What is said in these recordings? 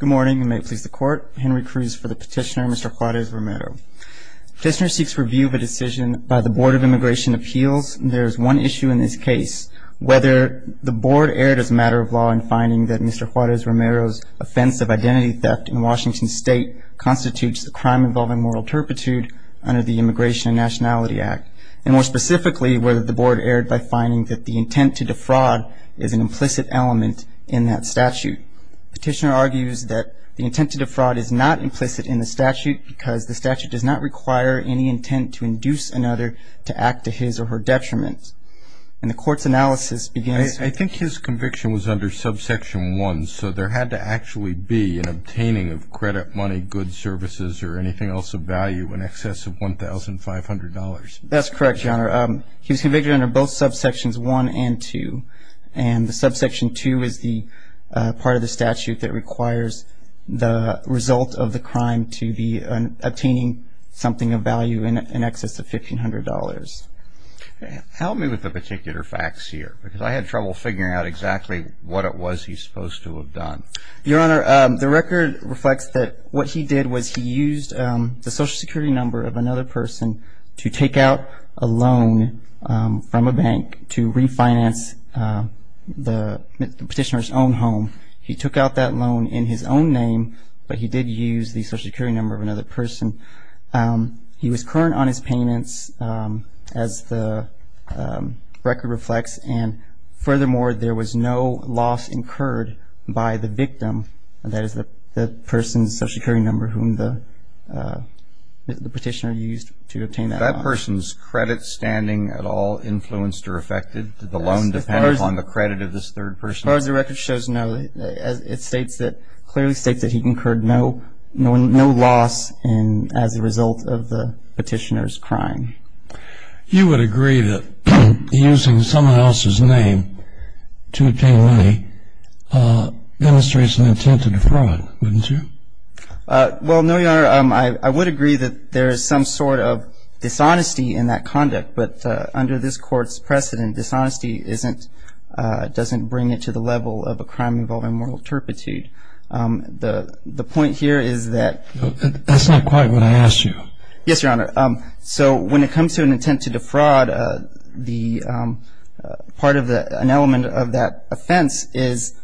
Good morning, and may it please the court. Henry Cruz for the petitioner, Mr. Juarez-Romero. Petitioner seeks review of a decision by the Board of Immigration Appeals. There is one issue in this case, whether the board erred as a matter of law in finding that Mr. Juarez-Romero's offense of identity theft in Washington state constitutes a crime involving moral turpitude under the Immigration and Nationality Act, and more specifically, whether the board erred by finding that the intent to defraud is an implicit element in that statute. Petitioner argues that the intent to defraud is not implicit in the statute because the statute does not require any intent to induce another to act to his or her detriment. And the court's analysis begins- I think his conviction was under subsection 1, so there had to actually be an obtaining of credit, money, goods, services, or anything else of value in excess of $1,500. That's correct, Your Honor. He was convicted under both subsections 1 and 2, and the subsection 2 is the part of the statute that requires the result of the crime to be obtaining something of value in excess of $1,500. Help me with the particular facts here, because I had trouble figuring out exactly what it was he's supposed to have done. Your Honor, the record reflects that what he did was he used the Social Security number of another person to take out a loan from a bank to refinance the petitioner's own home. He took out that loan in his own name, but he did use the Social Security number of another person. He was current on his payments, as the record reflects, and furthermore, there was no loss incurred by the victim, and that is the person's Social Security number whom the petitioner used to obtain that loan. Did that person's credit standing at all influenced or affected? Did the loan depend upon the credit of this third person? As far as the record shows, no. It clearly states that he incurred no loss as a result of the petitioner's crime. You would agree that using someone else's name to obtain money demonstrates an intent to defraud, wouldn't you? Well, no, Your Honor. I would agree that there is some sort of dishonesty in that conduct, but under this Court's precedent, dishonesty doesn't bring it to the level of a crime involving moral turpitude. The point here is that... That's not quite what I asked you. Yes, Your Honor. So when it comes to an intent to defraud, part of an element of that offense is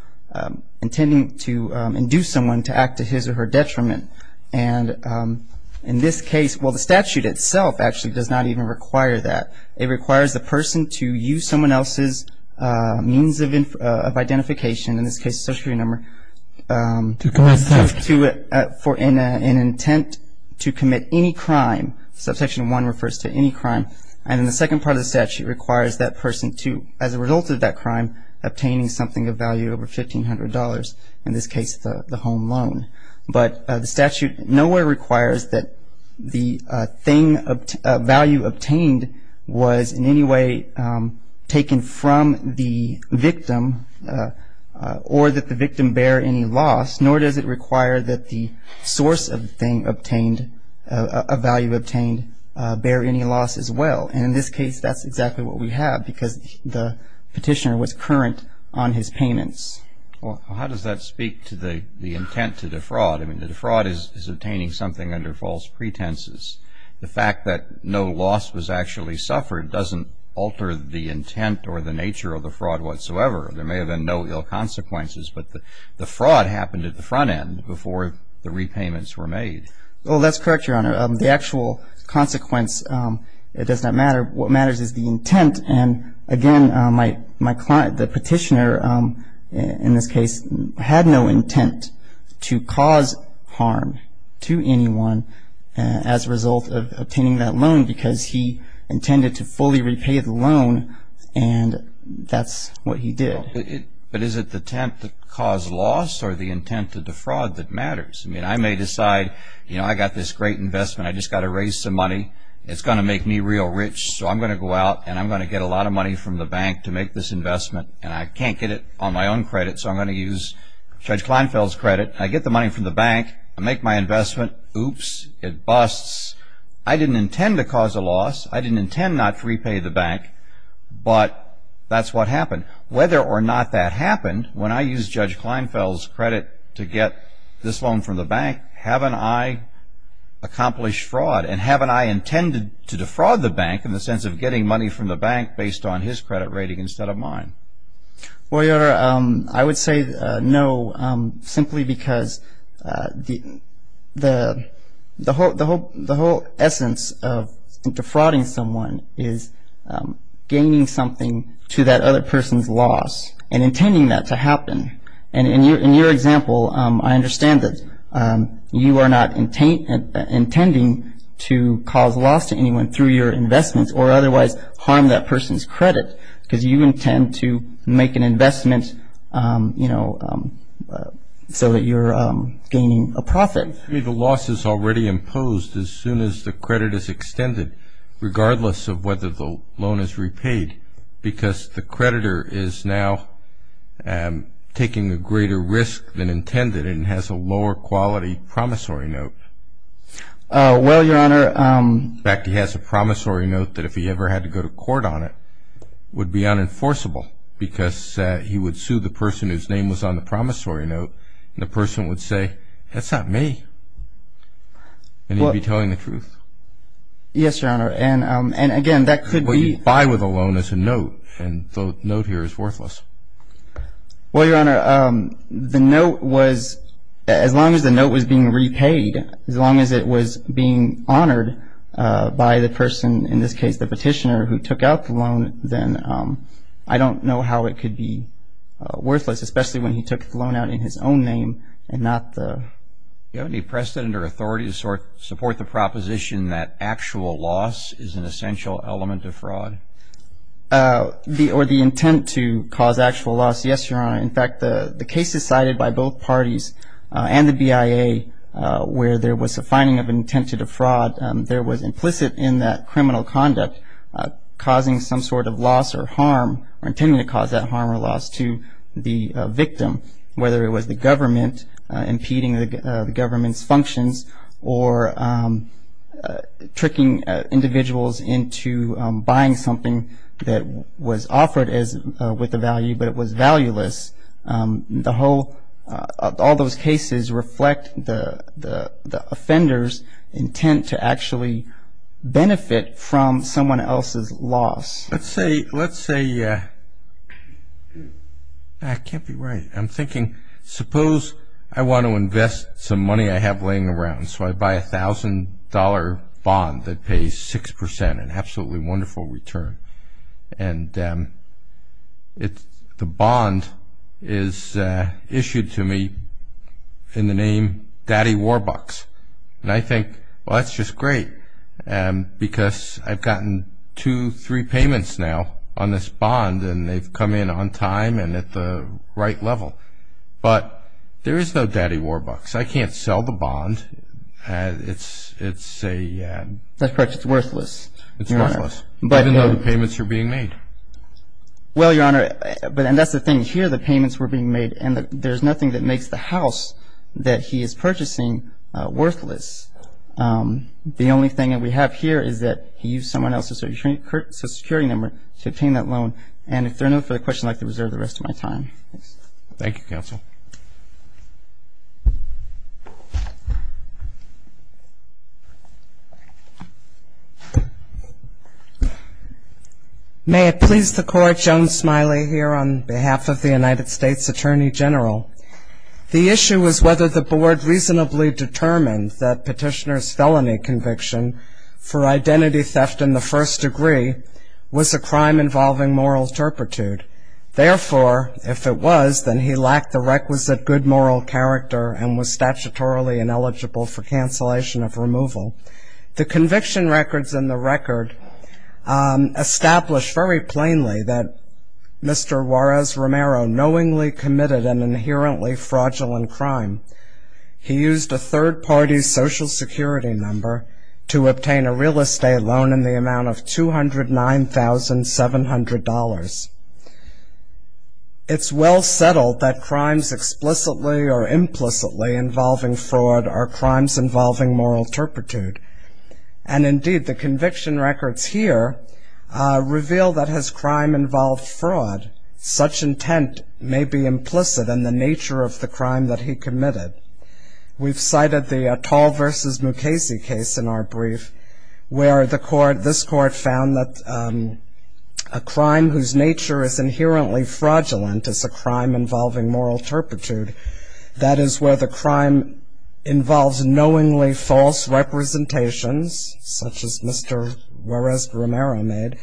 intending to induce someone to act to his or her detriment, and in this case, well, the statute itself actually does not even require that. It requires the person to use someone else's means of identification, in this case a Social Security number... To commit theft. ...for an intent to commit any crime. Subsection 1 refers to any crime. And then the second part of the statute requires that person to, as a result of that crime, obtain something of value over $1,500, in this case the home loan. But the statute nowhere requires that the value obtained was in any way taken from the victim or that the victim bear any loss, nor does it require that the source of the thing obtained, a value obtained, bear any loss as well. And in this case, that's exactly what we have, because the petitioner was current on his payments. Well, how does that speak to the intent to defraud? I mean, the defraud is obtaining something under false pretenses. The fact that no loss was actually suffered doesn't alter the intent or the nature of the fraud whatsoever. There may have been no ill consequences, but the fraud happened at the front end before the repayments were made. Well, that's correct, Your Honor. The actual consequence, it does not matter. What matters is the intent. And, again, my client, the petitioner, in this case, had no intent to cause harm to anyone as a result of obtaining that loan, because he intended to fully repay the loan, and that's what he did. But is it the intent to cause loss or the intent to defraud that matters? I mean, I may decide, you know, I got this great investment. I just got to raise some money. It's going to make me real rich, so I'm going to go out and I'm going to get a lot of money from the bank to make this investment, and I can't get it on my own credit, so I'm going to use Judge Kleinfeld's credit. I get the money from the bank. I make my investment. Oops. It busts. I didn't intend to cause a loss. I didn't intend not to repay the bank, but that's what happened. Whether or not that happened, when I used Judge Kleinfeld's credit to get this loan from the bank, haven't I accomplished fraud? And haven't I intended to defraud the bank in the sense of getting money from the bank based on his credit rating instead of mine? Well, Your Honor, I would say no simply because the whole essence of defrauding someone is gaining something to that other person's loss and intending that to happen. And in your example, I understand that you are not intending to cause loss to anyone through your investments or otherwise harm that person's credit because you intend to make an investment, you know, so that you're gaining a profit. I mean, the loss is already imposed as soon as the credit is extended, regardless of whether the loan is repaid, because the creditor is now taking a greater risk than intended and has a lower quality promissory note. Well, Your Honor. In fact, he has a promissory note that if he ever had to go to court on it would be unenforceable because he would sue the person whose name was on the promissory note, and the person would say, that's not me, and he'd be telling the truth. Yes, Your Honor, and again, that could be. What you buy with a loan is a note, and the note here is worthless. Well, Your Honor, the note was, as long as the note was being repaid, as long as it was being honored by the person, in this case the petitioner who took out the loan, then I don't know how it could be worthless, especially when he took the loan out in his own name and not the... Do you have any precedent or authority to support the proposition that actual loss is an essential element of fraud? Or the intent to cause actual loss? Yes, Your Honor. In fact, the cases cited by both parties and the BIA where there was a finding of an intent to defraud, there was implicit in that criminal conduct causing some sort of loss or harm or intending to cause that harm or loss to the victim, whether it was the government impeding the government's functions or tricking individuals into buying something that was offered with a value, but it was valueless. The whole, all those cases reflect the offender's intent to actually benefit from someone else's loss. Let's say, I can't be right. I'm thinking, suppose I want to invest some money I have laying around, so I buy a $1,000 bond that pays 6%, an absolutely wonderful return, and the bond is issued to me in the name Daddy Warbucks. And I think, well, that's just great because I've gotten two, three payments now on this bond and they've come in on time and at the right level, but there is no Daddy Warbucks. I can't sell the bond. It's a... That's correct. It's worthless. It's worthless, even though the payments are being made. Well, Your Honor, and that's the thing. Here the payments were being made and there's nothing that makes the house that he is purchasing worthless. The only thing that we have here is that he used someone else's social security number to obtain that loan, and if there are no further questions, I'd like to reserve the rest of my time. Thank you, counsel. May it please the Court, Joan Smiley here on behalf of the United States Attorney General. The issue is whether the Board reasonably determined that Petitioner's felony conviction for identity theft in the first degree was a crime involving moral turpitude. Therefore, if it was, then he lacked the requisite good moral character and was statutorily ineligible for cancellation of removal. The conviction records in the record establish very plainly that Mr. Juarez Romero knowingly committed an inherently fraudulent crime. He used a third party's social security number to obtain a real estate loan in the amount of $209,700. It's well settled that crimes explicitly or implicitly involving fraud are crimes involving moral turpitude, and indeed the conviction records here reveal that as crime involved fraud, such intent may be implicit in the nature of the crime that he committed. We've cited the Tall v. Mukasey case in our brief where this Court found that a crime whose nature is inherently fraudulent is a crime involving moral turpitude. That is where the crime involves knowingly false representations, such as Mr. Juarez Romero made,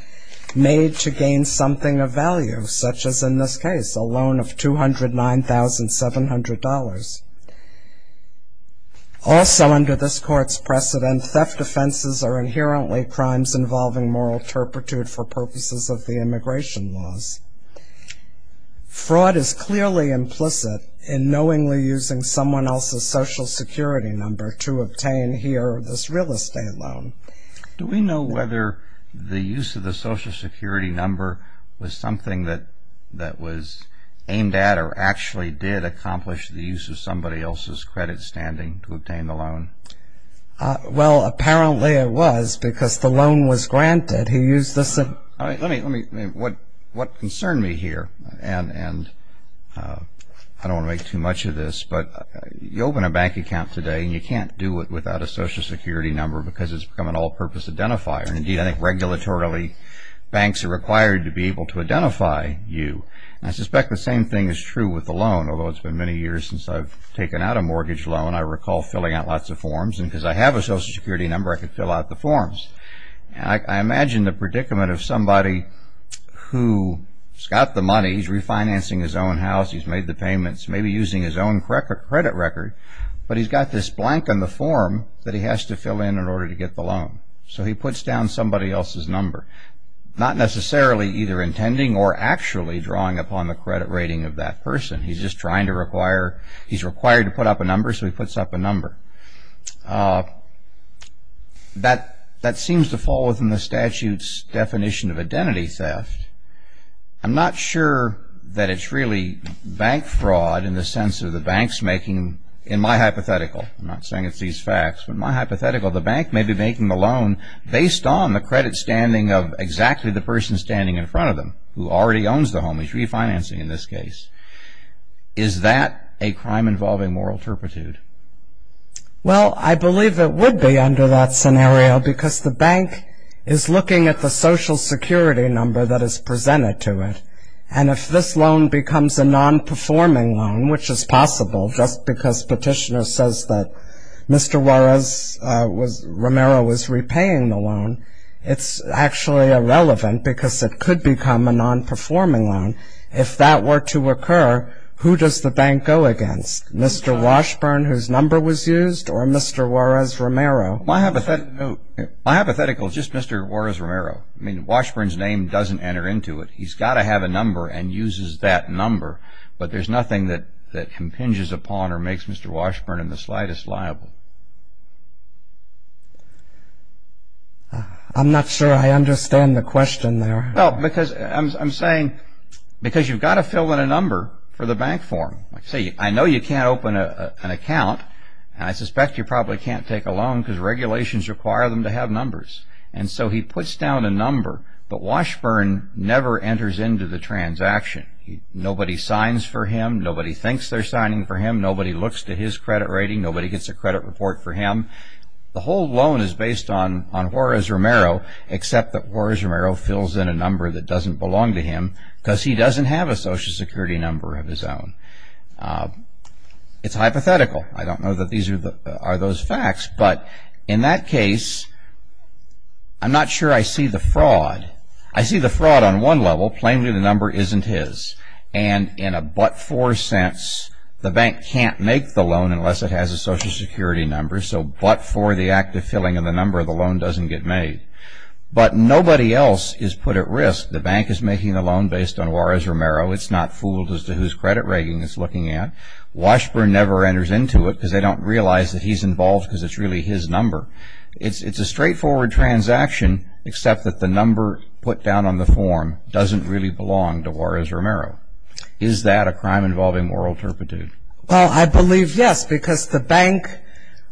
made to gain something of value, such as in this case, a loan of $209,700. Also under this Court's precedent, theft offenses are inherently crimes involving moral turpitude for purposes of the immigration laws. Fraud is clearly implicit in knowingly using someone else's social security number to obtain here this real estate loan. Do we know whether the use of the social security number was something that was aimed at or actually did accomplish the use of somebody else's credit standing to obtain the loan? Well, apparently it was because the loan was granted. What concerned me here, and I don't want to make too much of this, but you open a bank account today and you can't do it without a social security number because it's become an all-purpose identifier. Indeed, I think regulatorily banks are required to be able to identify you. I suspect the same thing is true with the loan, although it's been many years since I've taken out a mortgage loan. I recall filling out lots of forms, and because I have a social security number, I could fill out the forms. I imagine the predicament of somebody who's got the money, he's refinancing his own house, he's made the payments, maybe using his own credit record, but he's got this blank on the form that he has to fill in in order to get the loan. So he puts down somebody else's number, not necessarily either intending or actually drawing upon the credit rating of that person. He's just trying to require, he's required to put up a number, so he puts up a number. That seems to fall within the statute's definition of identity theft. I'm not sure that it's really bank fraud in the sense of the bank's making, in my hypothetical, I'm not saying it's these facts, but in my hypothetical, the bank may be making the loan based on the credit standing of exactly the person standing in front of them who already owns the home, he's refinancing in this case. Is that a crime involving moral turpitude? Well, I believe it would be under that scenario because the bank is looking at the social security number that is presented to it, and if this loan becomes a non-performing loan, which is possible, just because petitioner says that Mr. Romero was repaying the loan, it's actually irrelevant because it could become a non-performing loan. If that were to occur, who does the bank go against? Mr. Washburn, whose number was used, or Mr. Juarez-Romero? My hypothetical is just Mr. Juarez-Romero. I mean, Washburn's name doesn't enter into it. He's got to have a number and uses that number, but there's nothing that impinges upon or makes Mr. Washburn in the slightest liable. I'm not sure I understand the question there. No, because I'm saying because you've got to fill in a number for the bank form. See, I know you can't open an account, and I suspect you probably can't take a loan because regulations require them to have numbers, and so he puts down a number, but Washburn never enters into the transaction. Nobody signs for him. Nobody thinks they're signing for him. Nobody looks to his credit rating. Nobody gets a credit report for him. The whole loan is based on Juarez-Romero, except that Juarez-Romero fills in a number that doesn't belong to him because he doesn't have a Social Security number of his own. It's hypothetical. I don't know that these are those facts, but in that case, I'm not sure I see the fraud. I see the fraud on one level, plainly the number isn't his, and in a but-for sense, the bank can't make the loan unless it has a Social Security number, so but for the act of filling in the number, the loan doesn't get made. But nobody else is put at risk. The bank is making the loan based on Juarez-Romero. It's not fooled as to whose credit rating it's looking at. Washburn never enters into it because they don't realize that he's involved because it's really his number. It's a straightforward transaction, except that the number put down on the form doesn't really belong to Juarez-Romero. Is that a crime involving moral turpitude? Well, I believe yes, because the bank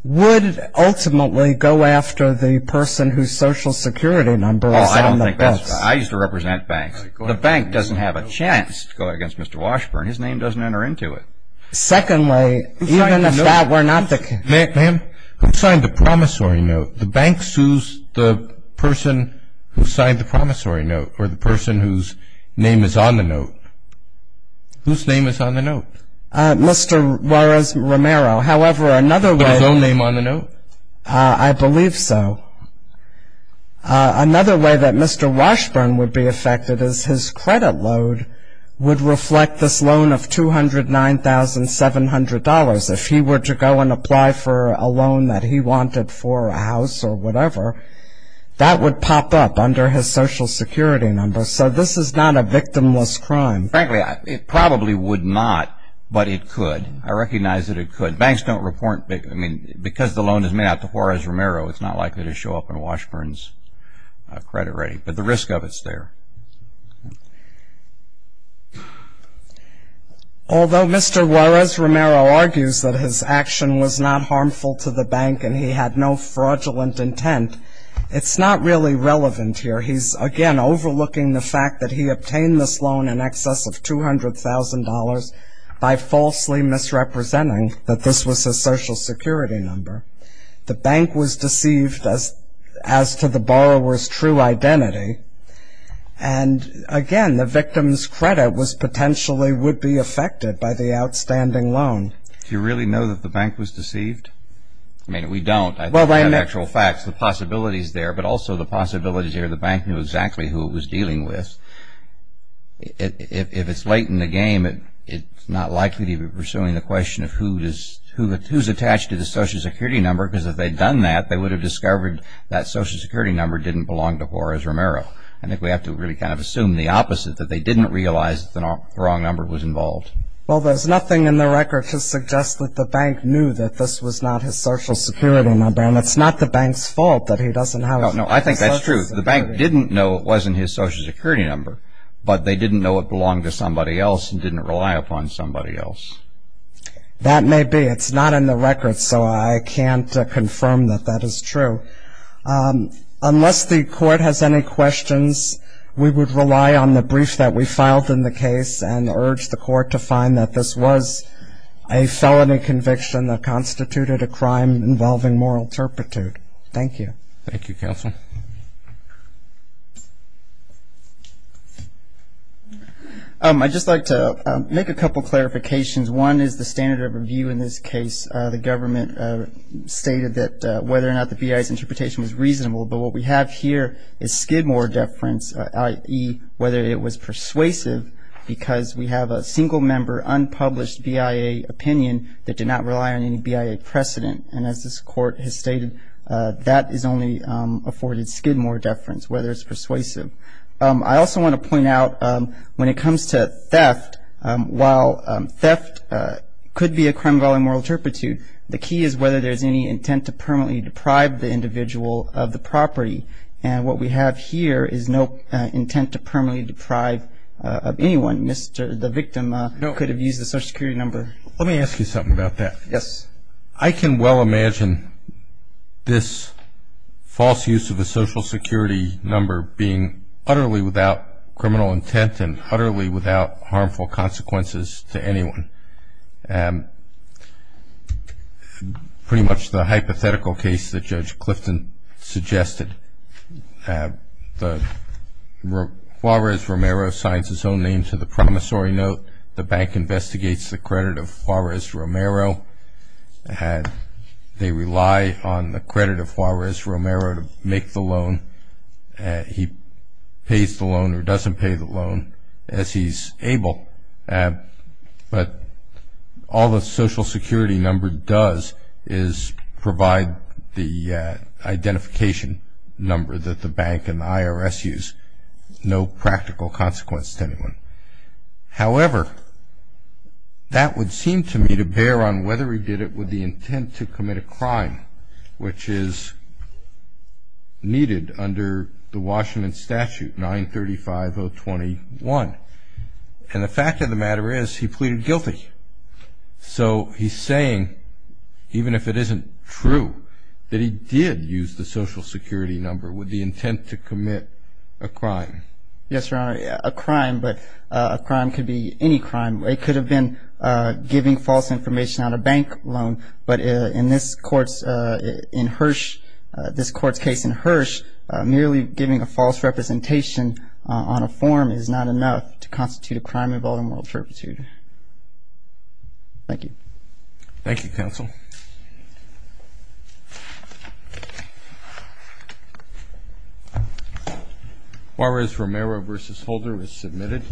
would ultimately go after the person whose Social Security number is on the bus. Well, I don't think that's right. I used to represent banks. The bank doesn't have a chance to go against Mr. Washburn. His name doesn't enter into it. Secondly, even if that were not the case. Ma'am, who signed the promissory note? The bank sues the person who signed the promissory note or the person whose name is on the note. Whose name is on the note? Mr. Juarez-Romero. However, another way. Is his own name on the note? I believe so. Another way that Mr. Washburn would be affected is his credit load would reflect this loan of $209,700. If he were to go and apply for a loan that he wanted for a house or whatever, that would pop up under his Social Security number. So this is not a victimless crime. Frankly, it probably would not, but it could. I recognize that it could. Banks don't report because the loan is made out to Juarez-Romero, it's not likely to show up on Washburn's credit rating. But the risk of it is there. Although Mr. Juarez-Romero argues that his action was not harmful to the bank and he had no fraudulent intent, it's not really relevant here. He's, again, overlooking the fact that he obtained this loan in excess of $200,000 by falsely misrepresenting that this was a Social Security number. The bank was deceived as to the borrower's true identity. And, again, the victim's credit was potentially would be affected by the outstanding loan. Do you really know that the bank was deceived? I mean, we don't. I think we have actual facts. The possibilities there, but also the possibilities here, the bank knew exactly who it was dealing with. If it's late in the game, it's not likely to be pursuing the question of who's attached to the Social Security number because if they'd done that, they would have discovered that Social Security number didn't belong to Juarez-Romero. I think we have to really kind of assume the opposite, that they didn't realize that the wrong number was involved. Well, there's nothing in the record to suggest that the bank knew that this was not his Social Security number, and it's not the bank's fault that he doesn't have a Social Security number. No, I think that's true. The bank didn't know it wasn't his Social Security number, but they didn't know it belonged to somebody else and didn't rely upon somebody else. That may be. It's not in the record, so I can't confirm that that is true. Unless the court has any questions, we would rely on the brief that we filed in the case and urge the court to find that this was a felony conviction that constituted a crime involving moral turpitude. Thank you. Thank you, Counsel. I'd just like to make a couple of clarifications. One is the standard of review in this case. The government stated that whether or not the BIA's interpretation was reasonable, but what we have here is Skidmore deference, i.e., whether it was persuasive because we have a single-member unpublished BIA opinion that did not rely on any BIA precedent. And as this court has stated, that is only afforded Skidmore deference, whether it's persuasive. I also want to point out when it comes to theft, while theft could be a crime involving moral turpitude, the key is whether there's any intent to permanently deprive the individual of the property. And what we have here is no intent to permanently deprive anyone. The victim could have used the Social Security number. Let me ask you something about that. Yes. I can well imagine this false use of a Social Security number being utterly without criminal intent and utterly without harmful consequences to anyone. Pretty much the hypothetical case that Judge Clifton suggested, Juarez-Romero signs his own name to the promissory note, the bank investigates the credit of Juarez-Romero. They rely on the credit of Juarez-Romero to make the loan. He pays the loan or doesn't pay the loan as he's able. But all the Social Security number does is provide the identification number that the bank and the IRS use. No practical consequence to anyone. However, that would seem to me to bear on whether he did it with the intent to commit a crime, which is needed under the Washington statute, 935-021. And the fact of the matter is he pleaded guilty. So he's saying, even if it isn't true, that he did use the Social Security number with the intent to commit a crime. Yes, Your Honor, a crime. But a crime could be any crime. It could have been giving false information on a bank loan. But in this court's case in Hirsch, merely giving a false representation on a form is not enough to constitute a crime involved in moral turpitude. Thank you. Thank you, counsel. Thank you. Juarez-Romero v. Holder is submitted.